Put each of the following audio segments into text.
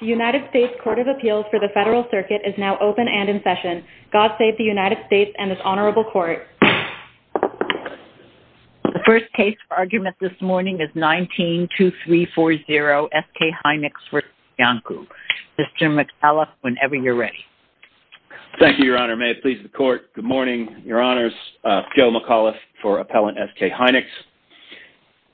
The United States Court of Appeals for the Federal Circuit is now open and in session. God save the United States and this Honorable Court. The first case for argument this morning is 19-2340, S.K. Hynix v. Iancu. Mr. McAuliffe, whenever you're ready. Thank you, Your Honor. May it please the Court. Good morning, Your Honors. Joe McAuliffe for Appellant S.K. Hynix.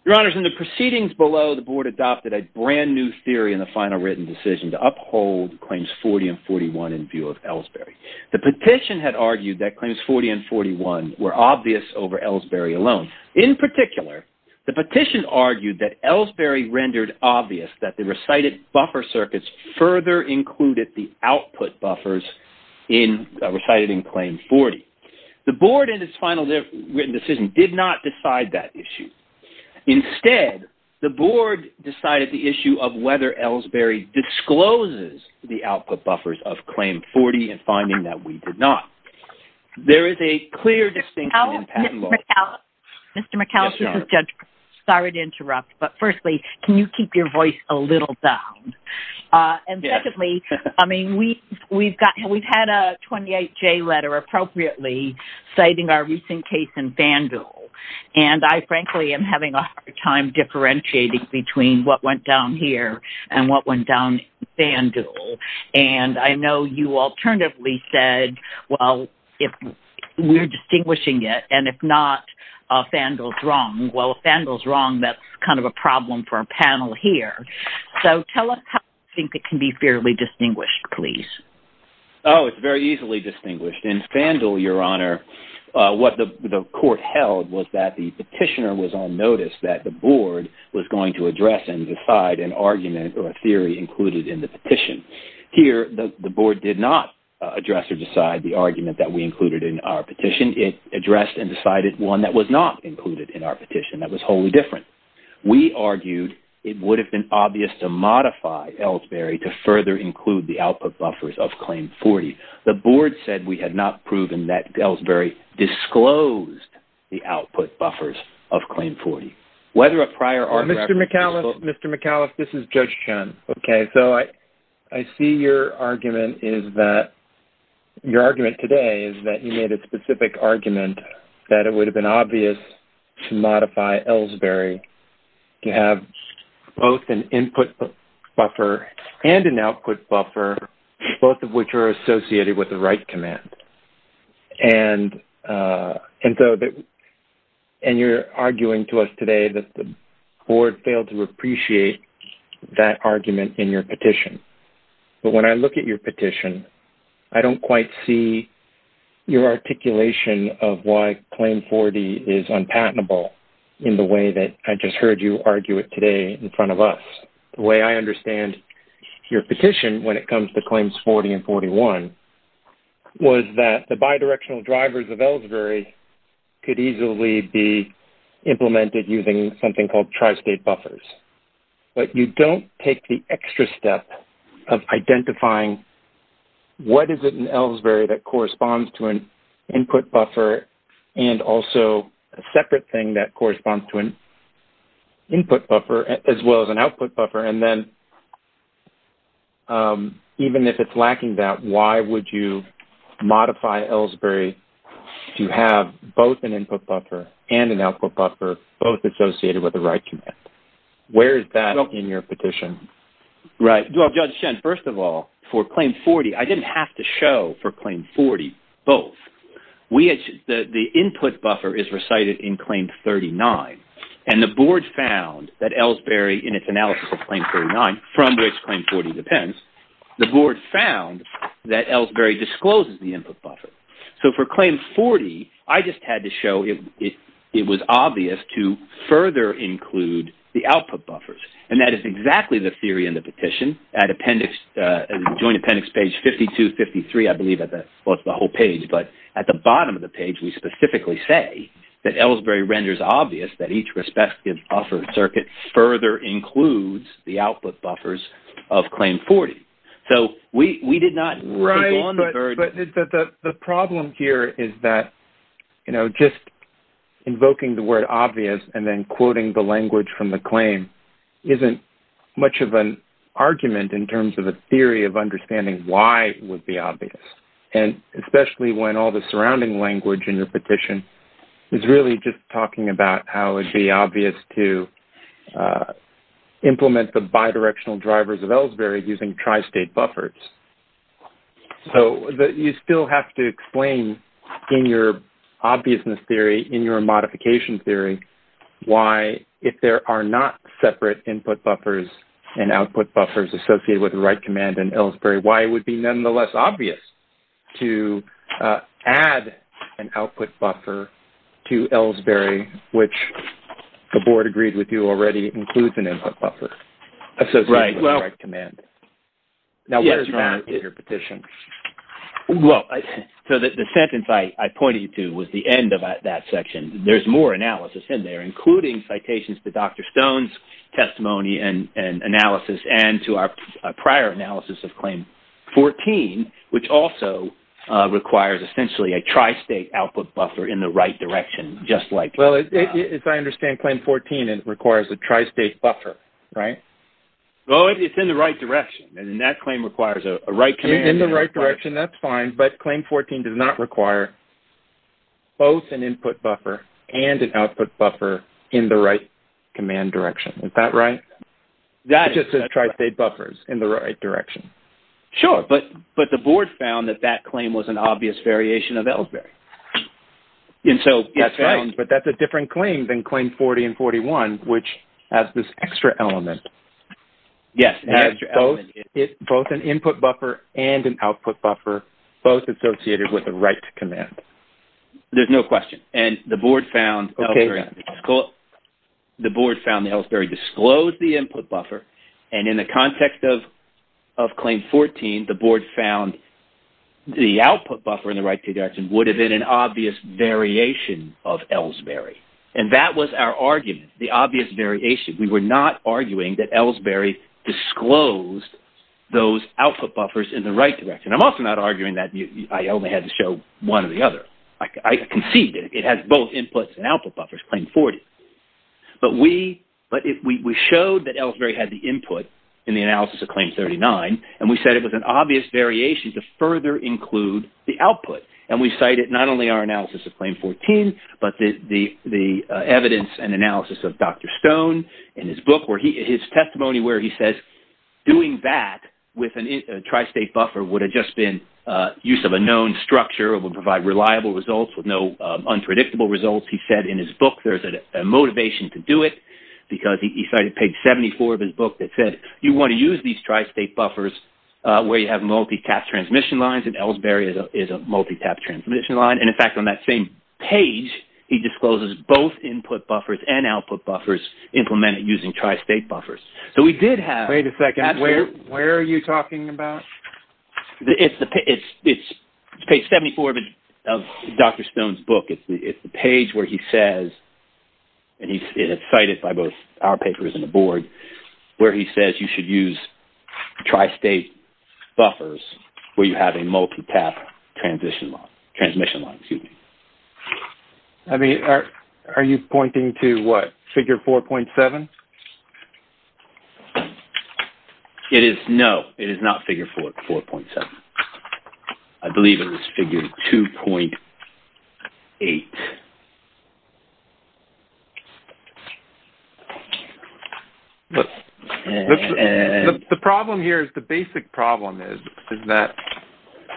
Your Honors, in the proceedings below, the Board adopted a brand new theory in the final written decision to uphold Claims 40 and 41 in view of Ellsbury. The petition had argued that Claims 40 and 41 were obvious over Ellsbury alone. In particular, the petition argued that Ellsbury rendered obvious that the recited buffer circuits further included the output buffers recited in Claim 40. The Board, in its final written decision, did not decide that issue. Instead, the Board decided the issue of whether Ellsbury discloses the output buffers of Claim 40 in finding that we did not. There is a clear distinction in patent law. Mr. McAuliffe, Mr. McAuliffe. Yes, Your Honor. Sorry to interrupt, but firstly, can you keep your voice a little down? Yes. Secondly, I mean, we've had a 28-J letter, appropriately, citing our recent case in Fandul. And I, frankly, am having a hard time differentiating between what went down here and what went down in Fandul. And I know you alternatively said, well, if we're distinguishing it, and if not, Fandul's wrong. Well, if Fandul's wrong, that's kind of a problem for our panel here. So tell us how you think it can be fairly distinguished, please. Oh, it's very easily distinguished. In Fandul, Your Honor, what the court held was that the petitioner was on notice that the Board was going to address and decide an argument or a theory included in the petition. Here, the Board did not address or decide the argument that we included in our petition. It addressed and decided one that was not included in our petition that was wholly different. We argued it would have been obvious to modify Ellsbury to further include the output buffers of Claim 40. The Board said we had not proven that Ellsbury disclosed the output buffers of Claim 40. Mr. McAuliffe, this is Judge Chun. Okay, so I see your argument today is that you made a specific argument that it would have been obvious to modify Ellsbury to have both an input buffer and an output buffer, both of which are associated with the right command. And you're arguing to us today that the Board failed to appreciate that argument in your petition. But when I look at your petition, I don't quite see your articulation of why Claim 40 is unpatentable in the way that I just heard you argue it today in front of us. The way I understand your petition when it comes to Claims 40 and 41 was that the bidirectional drivers of Ellsbury could easily be implemented using something called tri-state buffers. But you don't take the extra step of identifying what is it in Ellsbury that corresponds to an input buffer and also a separate thing that corresponds to an input buffer as well as an output buffer. And then even if it's lacking that, why would you modify Ellsbury to have both an input buffer and an output buffer, both associated with the right command? Where is that in your petition? Right. Well, Judge Shen, first of all, for Claim 40, I didn't have to show for Claim 40 both. The input buffer is recited in Claim 39, and the Board found that Ellsbury in its analysis of Claim 39, from which Claim 40 depends, the Board found that Ellsbury discloses the input buffer. So for Claim 40, I just had to show it was obvious to further include the output buffers. And that is exactly the theory in the petition at Joint Appendix Page 52, 53, I believe, at the bottom of the page, we specifically say that Ellsbury renders obvious that each respective buffer circuit further includes the output buffers of Claim 40. So we did not take on the burden. Right, but the problem here is that, you know, just invoking the word obvious and then quoting the language from the claim isn't much of an argument in terms of a theory of understanding why it would be obvious. And especially when all the surrounding language in your petition is really just talking about how it would be obvious to implement the bidirectional drivers of Ellsbury using tri-state buffers. So you still have to explain in your obviousness theory, in your modification theory, why if there are not separate input buffers and output buffers associated with the right command in Ellsbury, why it would be nonetheless obvious to add an output buffer to Ellsbury, which the Board agreed with you already includes an input buffer associated with the right command. Now what's wrong with your petition? Well, so the sentence I pointed to was the end of that section. There's more analysis in there, including citations to Dr. Stone's testimony and analysis and to our prior analysis of Claim 14, which also requires essentially a tri-state output buffer in the right direction, just like... Well, as I understand, Claim 14 requires a tri-state buffer, right? Well, it's in the right direction, and then that claim requires a right command. In the right direction, that's fine, but Claim 14 does not require both an input buffer and an output buffer in the right command direction. Is that right? That just says tri-state buffers in the right direction. Sure, but the Board found that that claim was an obvious variation of Ellsbury. That's right. But that's a different claim than Claim 40 and 41, which has this extra element. Yes, it has both an input buffer and an output buffer, both associated with the right command. There's no question, and the Board found Ellsbury disclosed the input buffer, and in the context of Claim 14, the Board found the output buffer in the right direction would have been an obvious variation of Ellsbury, and that was our argument, the obvious variation. We were not arguing that Ellsbury disclosed those output buffers in the right direction. I'm also not arguing that I only had to show one or the other. I conceived it. It has both inputs and output buffers, Claim 40. But we showed that Ellsbury had the input in the analysis of Claim 39, and we said it was an obvious variation to further include the output. And we cited not only our analysis of Claim 14, but the evidence and analysis of Dr. Stone in his book, his testimony where he says doing that with a tri-state buffer would have just been use of a known structure. It would provide reliable results with no unpredictable results. He said in his book there's a motivation to do it because he cited page 74 of his book that said you want to use these tri-state buffers where you have multi-tap transmission lines, and Ellsbury is a multi-tap transmission line. And, in fact, on that same page, he discloses both input buffers and output buffers implemented using tri-state buffers. So we did have… Wait a second. Where are you talking about? It's page 74 of Dr. Stone's book. It's the page where he says, and it's cited by both our papers and the board, where he says you should use tri-state buffers where you have a multi-tap transmission line. I mean, are you pointing to what? Figure 4.7? No, it is not figure 4.7. I believe it was figure 2.8. The problem here is the basic problem is that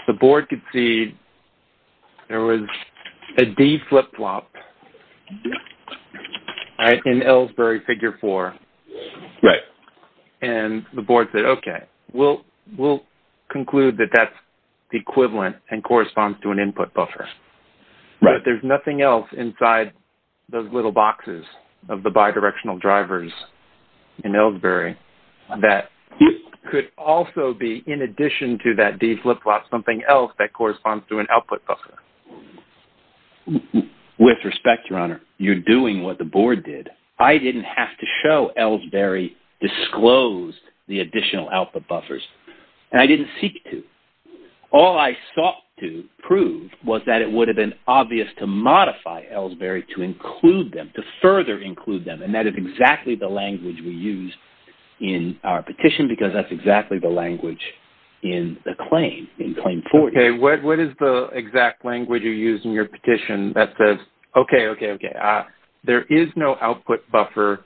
the board could see there was a D flip-flop in Ellsbury figure 4. Right. And the board said, okay, we'll conclude that that's the equivalent and corresponds to an input buffer. Right. But there's nothing else inside those little boxes of the bidirectional drivers in Ellsbury that could also be, in addition to that D flip-flop, something else that corresponds to an output buffer. With respect, Your Honor, you're doing what the board did. I didn't have to show Ellsbury disclosed the additional output buffers, and I didn't seek to. All I sought to prove was that it would have been obvious to modify Ellsbury to include them, to further include them, and that is exactly the language we use in our petition because that's exactly the language in the claim, in Claim 40. Okay. What is the exact language you use in your petition that says, okay, okay, okay, there is no output buffer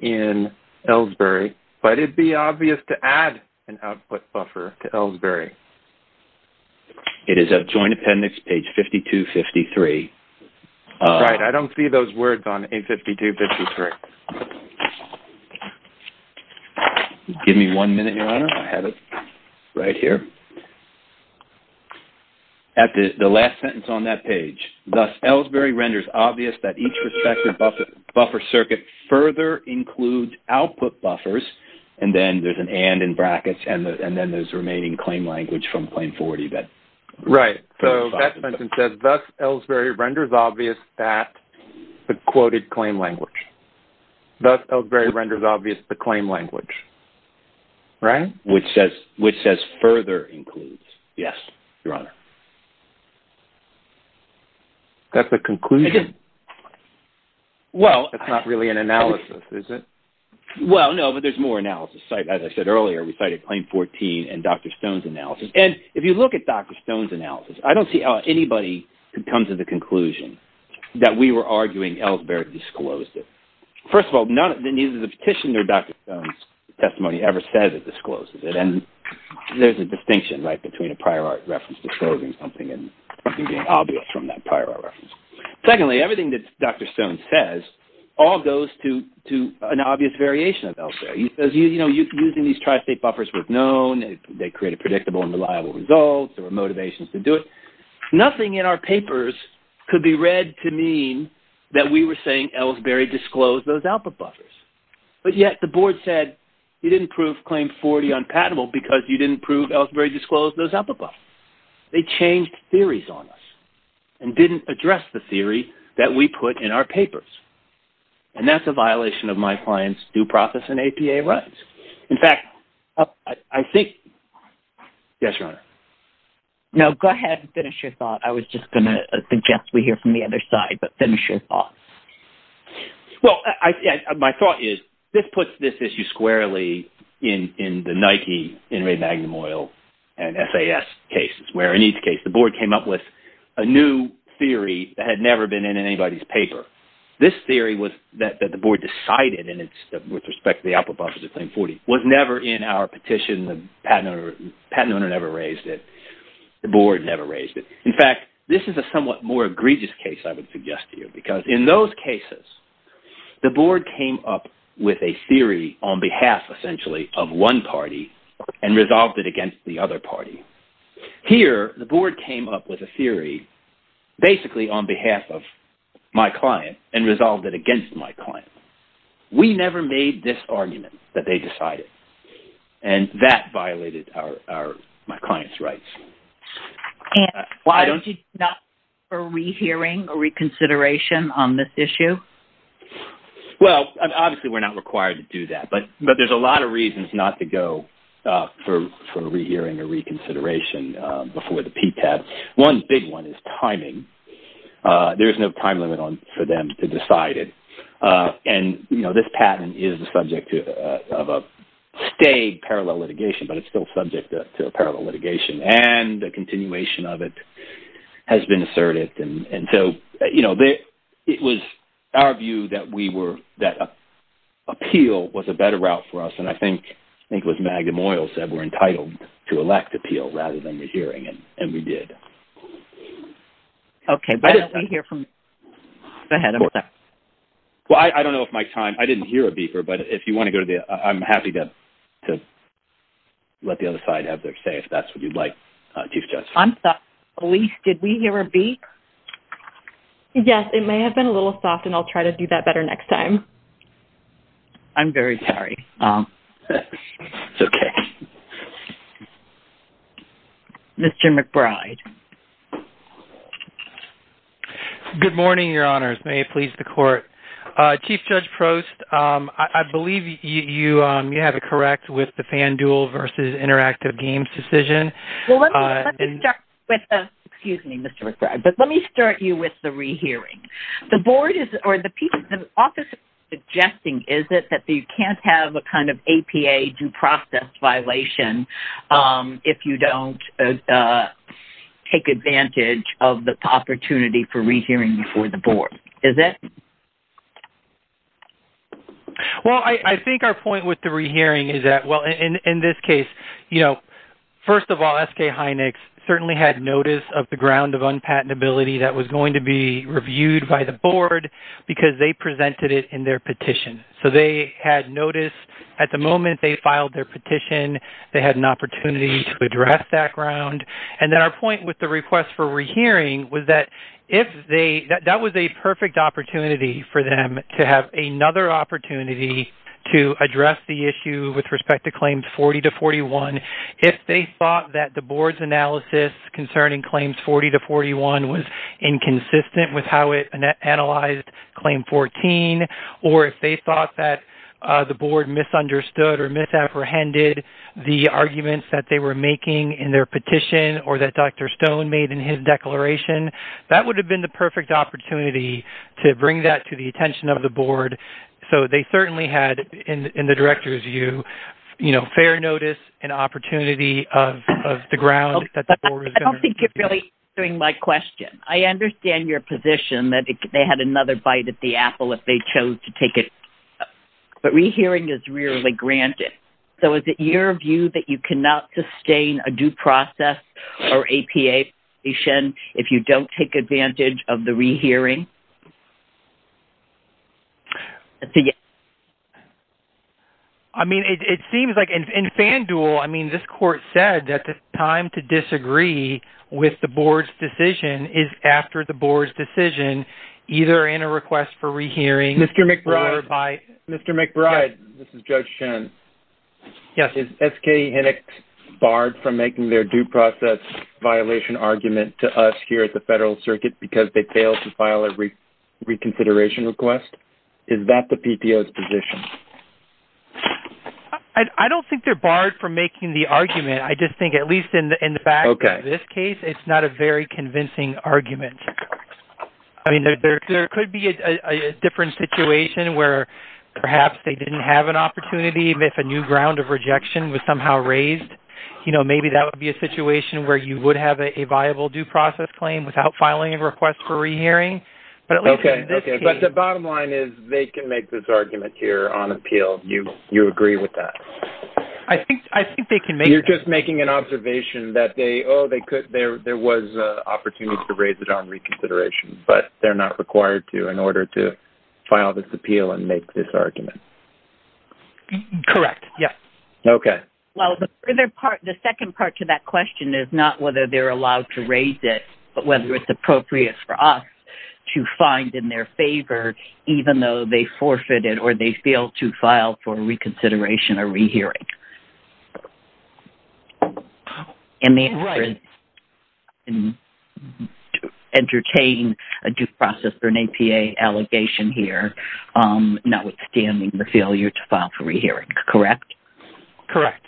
in Ellsbury, but it would be obvious to add an output buffer to Ellsbury? It is at Joint Appendix page 5253. Right. I don't see those words on A5253. Give me one minute, Your Honor. I have it right here. At the last sentence on that page, thus Ellsbury renders obvious that each respective buffer circuit further includes output buffers, and then there's an and in brackets, and then there's remaining claim language from Claim 40. Right. So that sentence says, thus Ellsbury renders obvious that, the quoted claim language. Thus Ellsbury renders obvious the claim language. Right. Which says further includes. Yes, Your Honor. That's the conclusion. Well… It's not really an analysis, is it? Well, no, but there's more analysis. As I said earlier, we cited Claim 14 and Dr. Stone's analysis, and if you look at Dr. Stone's analysis, I don't see anybody who comes to the conclusion that we were arguing Ellsbury disclosed it. First of all, neither the petition nor Dr. Stone's testimony ever says it discloses it, and there's a distinction between a prior art reference disclosing something and something being obvious from that prior art reference. Secondly, everything that Dr. Stone says all goes to an obvious variation of Ellsbury. Using these tri-state buffers was known. They created predictable and reliable results. There were motivations to do it. Nothing in our papers could be read to mean that we were saying Ellsbury disclosed those output buffers, but yet the board said you didn't prove Claim 40 unpatentable because you didn't prove Ellsbury disclosed those output buffers. They changed theories on us and didn't address the theory that we put in our papers, and that's a violation of my client's due process and APA rights. In fact, I think – yes, Your Honor? No, go ahead and finish your thought. I was just going to suggest we hear from the other side, but finish your thought. Well, my thought is this puts this issue squarely in the Nike, Enrique Magnum Oil, and SAS cases, where in each case the board came up with a new theory that had never been in anybody's paper. This theory was that the board decided, and it's with respect to the output buffers of Claim 40, was never in our petition. The patent owner never raised it. The board never raised it. In fact, this is a somewhat more egregious case I would suggest to you because in those cases, the board came up with a theory on behalf, essentially, of one party and resolved it against the other party. Here, the board came up with a theory basically on behalf of my client and resolved it against my client. We never made this argument that they decided, and that violated my client's rights. Why don't you not go for rehearing or reconsideration on this issue? Well, obviously, we're not required to do that, but there's a lot of reasons not to go for rehearing or reconsideration before the PTAB. One big one is timing. There's no time limit for them to decide it. This patent is the subject of a stage parallel litigation, but it's still subject to a parallel litigation, and the continuation of it has been asserted. It was our view that appeal was a better route for us, and I think it was Magnum Oils that were entitled to elect appeal rather than the hearing, and we did. Okay. Why don't we hear from the head of the… Well, I don't know if my time… I didn't hear a beeper, but if you want to go to the… I'm happy to let the other side have their say if that's what you'd like, Chief Justice. I'm sorry. Elise, did we hear a beep? Yes, it may have been a little soft, and I'll try to do that better next time. I'm very sorry. It's okay. Mr. McBride. Good morning, Your Honors. May it please the Court. Chief Judge Prost, I believe you have it correct with the FanDuel v. Interactive Games decision. Well, let me start with—excuse me, Mr. McBride, but let me start you with the rehearing. The board is—or the office is suggesting, is it, that you can't have a kind of APA due process violation if you don't take advantage of the opportunity for rehearing before the board, is it? Well, I think our point with the rehearing is that—well, in this case, you know, first of all, SK Hynix certainly had notice of the ground of unpatentability that was going to be reviewed by the board because they presented it in their petition. So they had notice. At the moment, they filed their petition. They had an opportunity to address that ground. And then our point with the request for rehearing was that if they—that was a perfect opportunity for them to have another opportunity to address the issue with respect to Claims 40-41. If they thought that the board's analysis concerning Claims 40-41 was inconsistent with how it analyzed Claim 14, or if they thought that the board misunderstood or misapprehended the arguments that they were making in their petition or that Dr. Stone made in his declaration, that would have been the perfect opportunity to bring that to the attention of the board. So they certainly had, in the director's view, you know, fair notice and opportunity of the ground that the board was going to review. I don't think you're really answering my question. I understand your position that they had another bite at the apple if they chose to take it. But rehearing is rarely granted. So is it your view that you cannot sustain a due process or APA petition if you don't take advantage of the rehearing? I mean, it seems like in FanDuel, I mean, this court said that the time to disagree with the board's decision is after the board's decision, either in a request for rehearing or by— I don't think they're barred from making the argument. I just think, at least in the back of this case, it's not a very convincing argument. I mean, there could be a different situation where perhaps they didn't have an opportunity if a new ground of rejection was somehow raised. You know, maybe that would be a situation where you would have a viable due process claim without filing a request for rehearing. But at least in this case— Okay. But the bottom line is they can make this argument here on appeal. You agree with that? I think they can make that. You're just making an observation that they—oh, there was an opportunity to raise it on reconsideration. But they're not required to in order to file this appeal and make this argument? Correct. Yes. Okay. Well, the second part to that question is not whether they're allowed to raise it, but whether it's appropriate for us to find in their favor, even though they forfeited or they failed to file for reconsideration or rehearing. Right. And the answer is to entertain a due process or an APA allegation here, notwithstanding the failure to file for rehearing. Correct? Correct.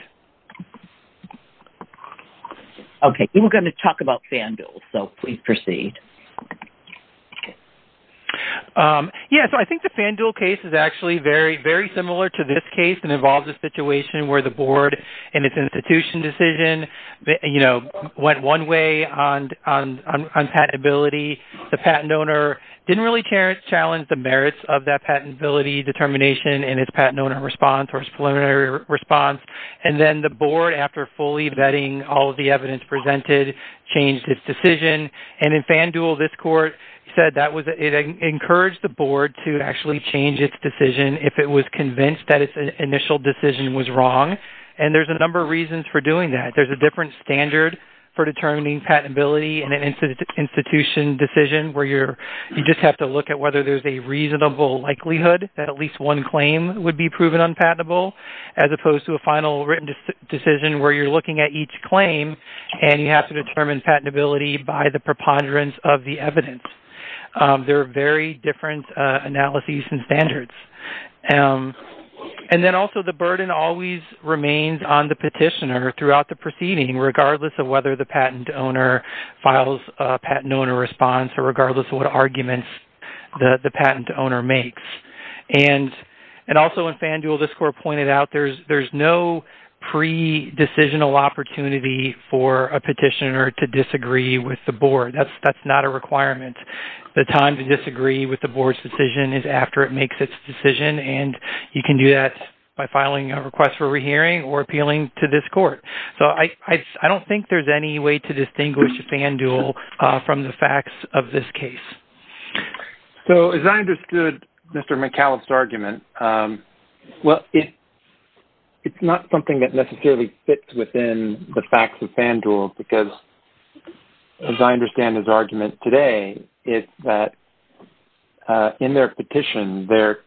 Okay. We were going to talk about FanDuel, so please proceed. Yes. So I think the FanDuel case is actually very similar to this case and involves a situation where the board in its institution decision went one way on patentability. The patent owner didn't really challenge the merits of that patentability determination in its patent owner response or its preliminary response. And then the board, after fully vetting all of the evidence presented, changed its decision. And in FanDuel, this court said that it encouraged the board to actually change its decision if it was convinced that its initial decision was wrong. And there's a number of reasons for doing that. There's a different standard for determining patentability in an institution decision where you just have to look at whether there's a reasonable likelihood that at least one claim would be proven unpatentable, as opposed to a final written decision where you're looking at each claim and you have to determine patentability by the preponderance of the evidence. There are very different analyses and standards. And then also the burden always remains on the petitioner throughout the proceeding, regardless of whether the patent owner files a patent owner response or regardless of what arguments the patent owner makes. And also in FanDuel, this court pointed out there's no pre-decisional opportunity for a petitioner to disagree with the board. That's not a requirement. The time to disagree with the board's decision is after it makes its decision, and you can do that by filing a request for rehearing or appealing to this court. So I don't think there's any way to distinguish FanDuel from the facts of this case. So as I understood Mr. McAuliffe's argument, well, it's not something that necessarily fits within the facts of FanDuel, because as I understand his argument today, it's that in their petition, their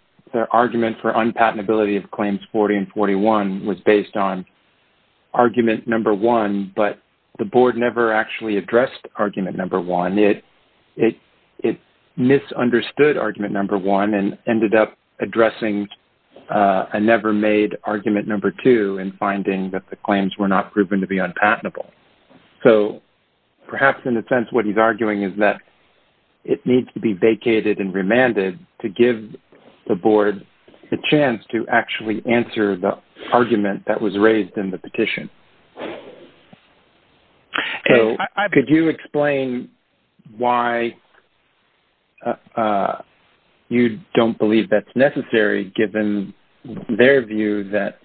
argument for unpatentability of claims 40 and 41 was based on argument number one, but the board never actually addressed argument number one. And it misunderstood argument number one and ended up addressing a never-made argument number two and finding that the claims were not proven to be unpatentable. So perhaps in a sense what he's arguing is that it needs to be vacated and remanded to give the board the chance to actually answer the argument that was raised in the petition. Could you explain why you don't believe that's necessary, given their view that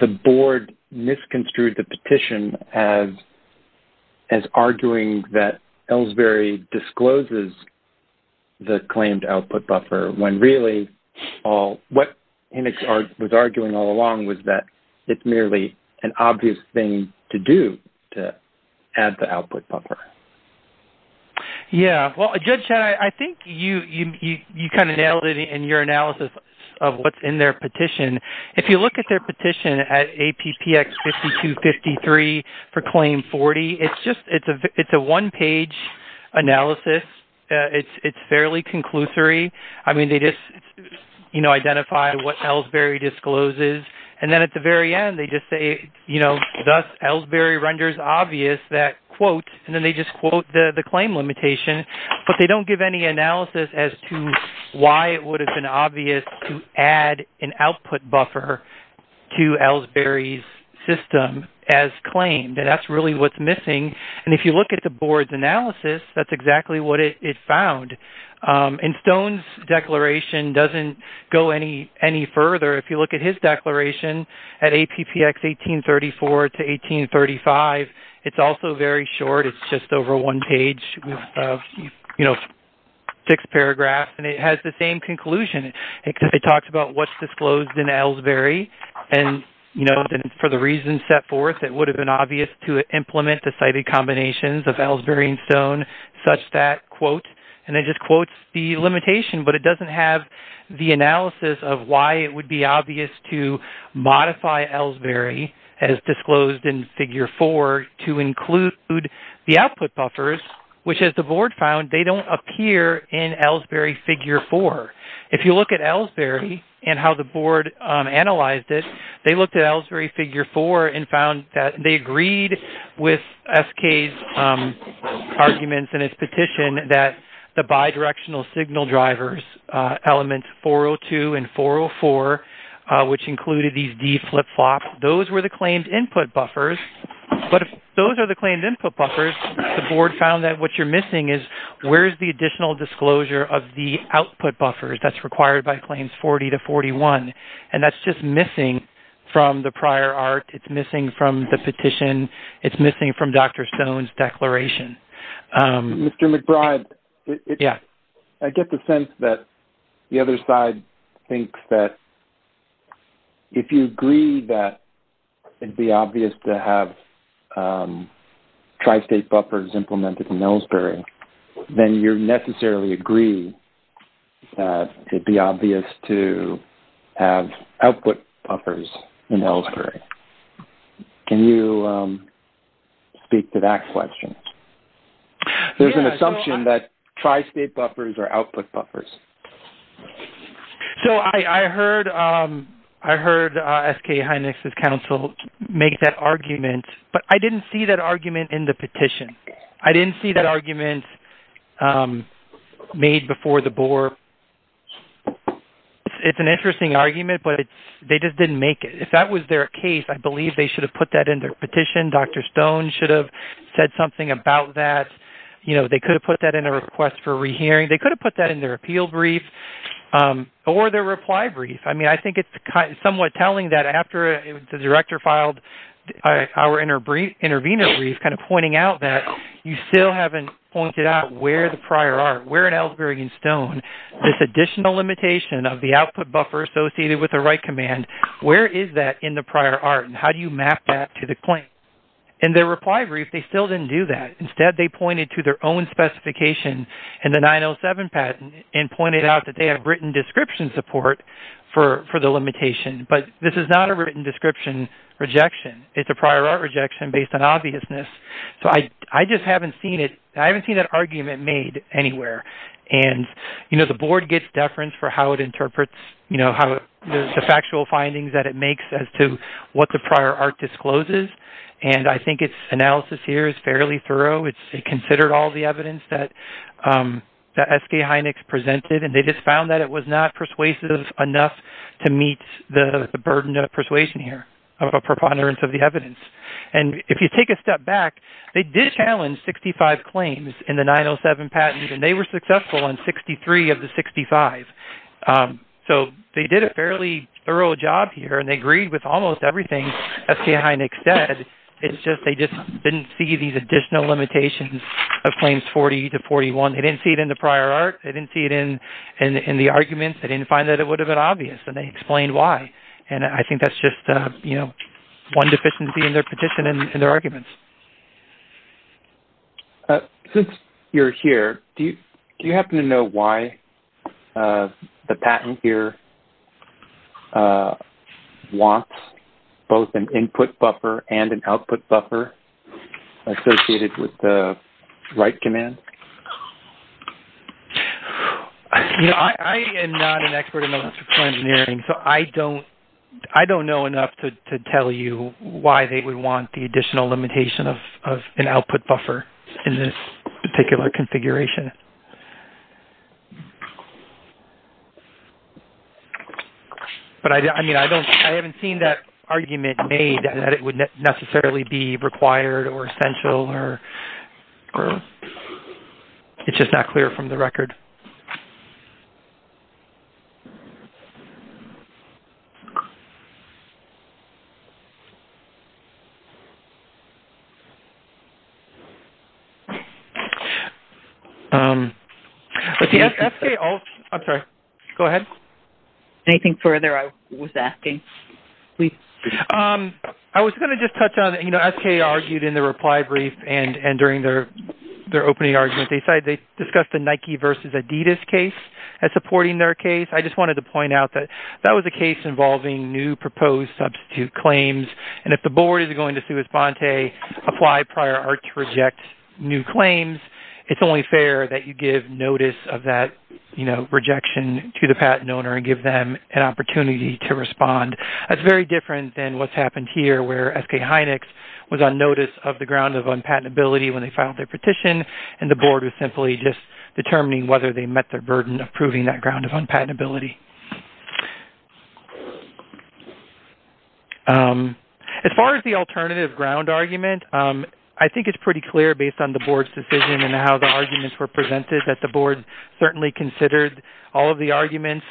the board misconstrued the petition as arguing that Ellsbury discloses the claimed output buffer, when really what Hennig was arguing all along was that it's merely an obvious thing to do to add the output buffer? Yeah. Well, Judge Shedd, I think you kind of nailed it in your analysis of what's in their petition. If you look at their petition at APPX 5253 for claim 40, it's a one-page analysis. It's fairly conclusory. I mean, they just identify what Ellsbury discloses, and then at the very end they just say, you know, thus Ellsbury renders obvious that quote, and then they just quote the claim limitation, but they don't give any analysis as to why it would have been obvious to add an output buffer to Ellsbury's system as claimed. That's really what's missing, and if you look at the board's analysis, that's exactly what it found. And Stone's declaration doesn't go any further. If you look at his declaration at APPX 1834 to 1835, it's also very short. It's just over one page with, you know, six paragraphs, and it has the same conclusion. It talks about what's disclosed in Ellsbury, and, you know, for the reasons set forth, it would have been obvious to implement the cited combinations of Ellsbury and Stone, such that, quote, and it just quotes the limitation, but it doesn't have the analysis of why it would be obvious to modify Ellsbury as disclosed in Figure 4 to include the output buffers, which, as the board found, they don't appear in Ellsbury Figure 4. If you look at Ellsbury and how the board analyzed it, they looked at Ellsbury Figure 4 and found that they agreed with SK's arguments in its petition that the bi-directional signal drivers, elements 402 and 404, which included these D flip-flops, those were the claimed input buffers, but if those are the claimed input buffers, the board found that what you're missing is where's the additional disclosure of the output buffers that's required by Claims 40 to 41, and that's just missing from the prior art. It's missing from the petition. It's missing from Dr. Stone's declaration. Mr. McBride, I get the sense that the other side thinks that if you agree that it would be obvious to have tri-state buffers implemented in Ellsbury, then you necessarily agree that it would be obvious to have output buffers in Ellsbury. Can you speak to that question? There's an assumption that tri-state buffers are output buffers. So I heard SK Hynix's counsel make that argument, but I didn't see that argument in the petition. I didn't see that argument made before the board. It's an interesting argument, but they just didn't make it. If that was their case, I believe they should have put that in their petition. Dr. Stone should have said something about that. They could have put that in a request for rehearing. They could have put that in their appeal brief or their reply brief. I mean, I think it's somewhat telling that after the director filed our intervener brief, kind of pointing out that you still haven't pointed out where the prior art, where in Ellsbury and Stone, this additional limitation of the output buffer associated with the right command, where is that in the prior art and how do you map that to the claim? In their reply brief, they still didn't do that. Instead, they pointed to their own specification in the 907 patent and pointed out that they have written description support for the limitation. But this is not a written description rejection. It's a prior art rejection based on obviousness. So I just haven't seen it. I haven't seen that argument made anywhere. And, you know, the board gets deference for how it interprets, you know, the factual findings that it makes as to what the prior art discloses. And I think its analysis here is fairly thorough. It considered all the evidence that S.K. Hynix presented, and they just found that it was not persuasive enough to meet the burden of persuasion here, of a preponderance of the evidence. And if you take a step back, they did challenge 65 claims in the 907 patent, and they were successful in 63 of the 65. So they did a fairly thorough job here, and they agreed with almost everything S.K. Hynix said. It's just they just didn't see these additional limitations of claims 40 to 41. They didn't see it in the prior art. They didn't see it in the arguments. They didn't find that it would have been obvious, and they explained why. And I think that's just, you know, one deficiency in their petition and their arguments. Since you're here, do you happen to know why the patent here wants both an input buffer and an output buffer associated with the write command? You know, I am not an expert in electrical engineering, so I don't know enough to tell you why they would want the additional limitation of an output buffer in this particular configuration. But, I mean, I haven't seen that argument made that it would necessarily be required or essential, or it's just not clear from the record. Thank you. I'm sorry. Go ahead. Anything further I was asking? I was going to just touch on it. You know, S.K. argued in the reply brief and during their opening argument. They discussed the Nike versus Adidas case as supporting their case. I just wanted to point out that that was a case involving new proposed substitute claims, and if the board is going to sui sponte, apply prior art to reject new claims, it's only fair that you give notice of that, you know, rejection to the patent owner and give them an opportunity to respond. That's very different than what's happened here, where S.K. Heinex was on notice of the ground of unpatentability when they filed their petition, and the board was simply just determining whether they met their burden of proving that ground of unpatentability. As far as the alternative ground argument, I think it's pretty clear based on the board's decision and how the arguments were presented that the board certainly considered all of the arguments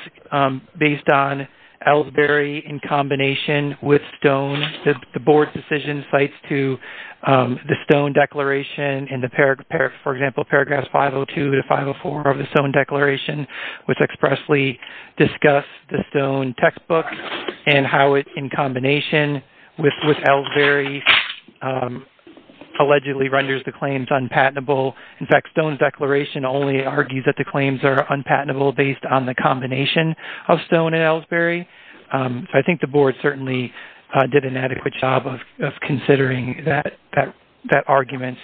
based on Ellsbury in combination with Stone. The board's decision cites to the Stone Declaration and, for example, paragraphs 502 to 504 of the Stone Declaration, which expressly discuss the Stone textbook and how it, in combination with Ellsbury, allegedly renders the claims unpatentable. In fact, Stone's declaration only argues that the claims are unpatentable based on the combination of Stone and Ellsbury. I think the board certainly did an adequate job of considering that argument.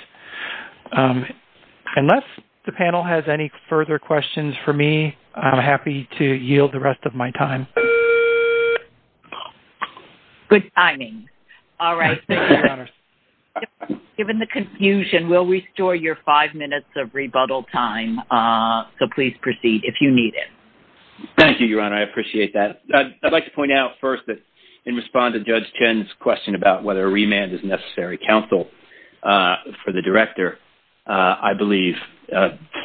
Unless the panel has any further questions for me, I'm happy to yield the rest of my time. Good timing. Given the confusion, we'll restore your five minutes of rebuttal time, so please proceed if you need it. Thank you, Your Honor. I appreciate that. I'd like to point out first that in response to Judge Chen's question about whether a remand is necessary counsel for the director, I believe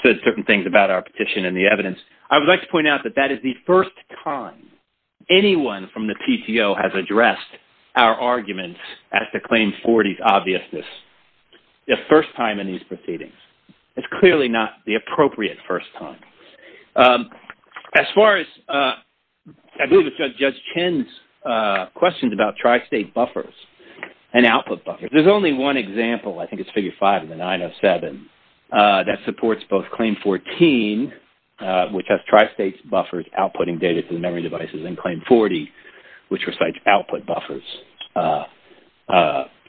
said certain things about our petition and the evidence. I would like to point out that that is the first time anyone from the PTO has addressed our arguments at the Claim 40's obviousness. The first time in these proceedings. It's clearly not the appropriate first time. As far as Judge Chen's questions about tri-state buffers and output buffers, there's only one example, I think it's Figure 5 of the 907, that supports both Claim 14, which has tri-state buffers outputting data to the memory devices, and Claim 40, which was like output buffers,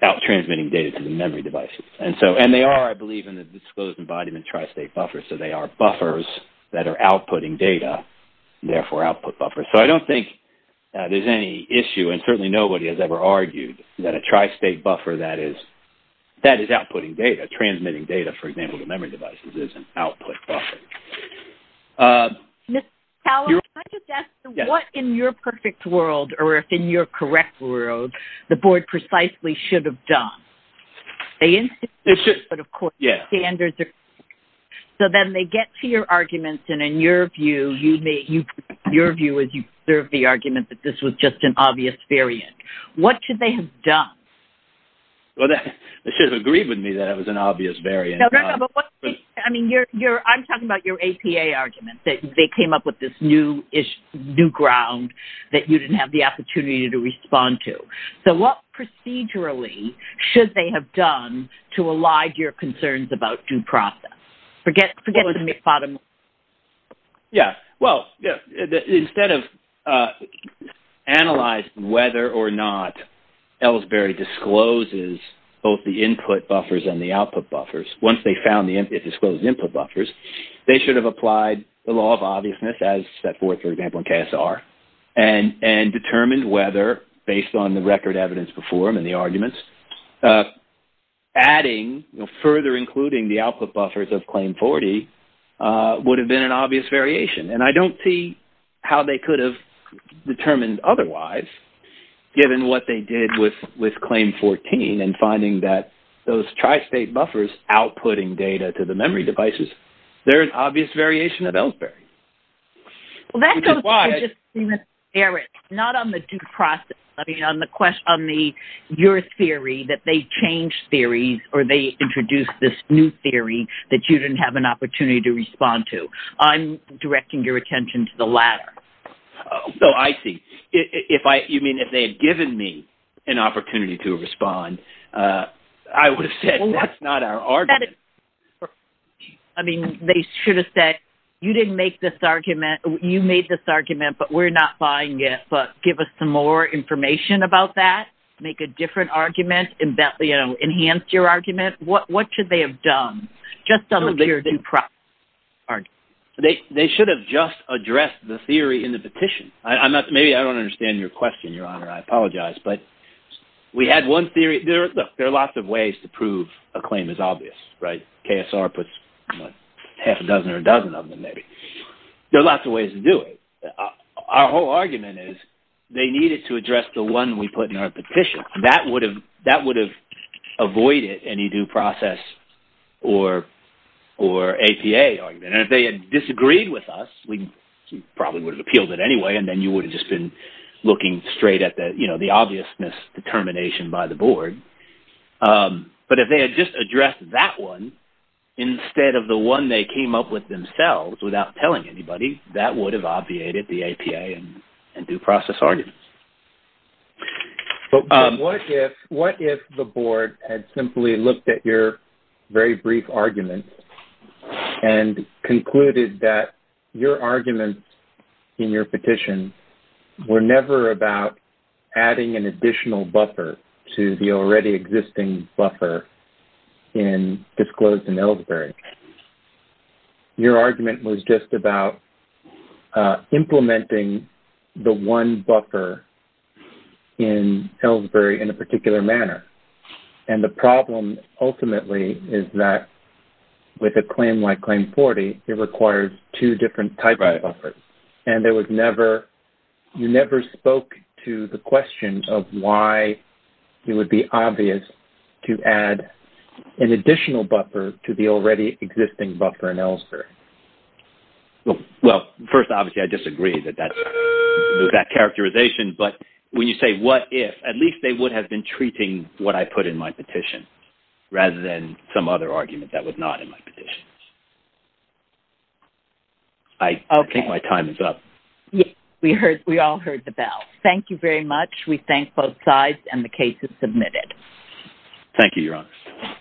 out-transmitting data to the memory devices. And they are, I believe, in the disclosed embodiment tri-state buffers, so they are buffers that are outputting data, therefore output buffers. So I don't think there's any issue, and certainly nobody has ever argued, that a tri-state buffer that is outputting data, transmitting data, for example, to memory devices, is an output buffer. Mr. Fowler, can I just ask, what in your perfect world, or if in your correct world, the Board precisely should have done? They insisted, but of course the standards are different. So then they get to your arguments, and in your view, your view is you've served the argument that this was just an obvious variant. What should they have done? Well, they should have agreed with me that it was an obvious variant. I'm talking about your APA arguments. They came up with this new ground that you didn't have the opportunity to respond to. So what procedurally should they have done to elide your concerns about due process? Yeah, well, instead of analyzing whether or not Ellsbury discloses both the input buffers and the output buffers, once they found the disclosed input buffers, they should have applied the law of obviousness, as set forth, for example, in KSR, and determined whether, based on the record evidence before them and the arguments, adding, further including the output buffers of Claim 40 would have been an obvious variation. And I don't see how they could have determined otherwise, given what they did with Claim 14 and finding that those tri-state buffers outputting data to the memory devices, they're an obvious variation of Ellsbury. Well, that goes to just Eric. Not on the due process. I mean, on your theory that they changed theories, or they introduced this new theory that you didn't have an opportunity to respond to. I'm directing your attention to the latter. Oh, I see. You mean if they had given me an opportunity to respond, I would have said that's not our argument. I mean, they should have said, you made this argument, but we're not buying it. But give us some more information about that. Make a different argument. Enhance your argument. What should they have done? Just on the due process argument. They should have just addressed the theory in the petition. Maybe I don't understand your question, Your Honor. I apologize. But we had one theory. Look, there are lots of ways to prove a claim is obvious, right? KSR puts half a dozen or a dozen of them, maybe. There are lots of ways to do it. Our whole argument is they needed to address the one we put in our petition. That would have avoided any due process or APA argument. And if they had disagreed with us, we probably would have appealed it anyway, and then you would have just been looking straight at the obviousness determination by the board. But if they had just addressed that one instead of the one they came up with themselves without telling anybody, that would have obviated the APA and due process arguments. But what if the board had simply looked at your very brief argument and concluded that your arguments in your petition were never about adding an additional buffer to the already existing buffer disclosed in Ellsbury? Your argument was just about implementing the one buffer in Ellsbury in a particular manner. And the problem, ultimately, is that with a claim like Claim 40, it requires two different types of buffers. And you never spoke to the question of why it would be obvious to add an additional buffer to the already existing buffer in Ellsbury. Well, first, obviously, I disagree with that characterization. But when you say what if, at least they would have been treating what I put in my petition rather than some other argument that was not in my petition. I think my time is up. We all heard the bell. Thank you very much. We thank both sides, and the case is submitted. Thank you, Your Honor.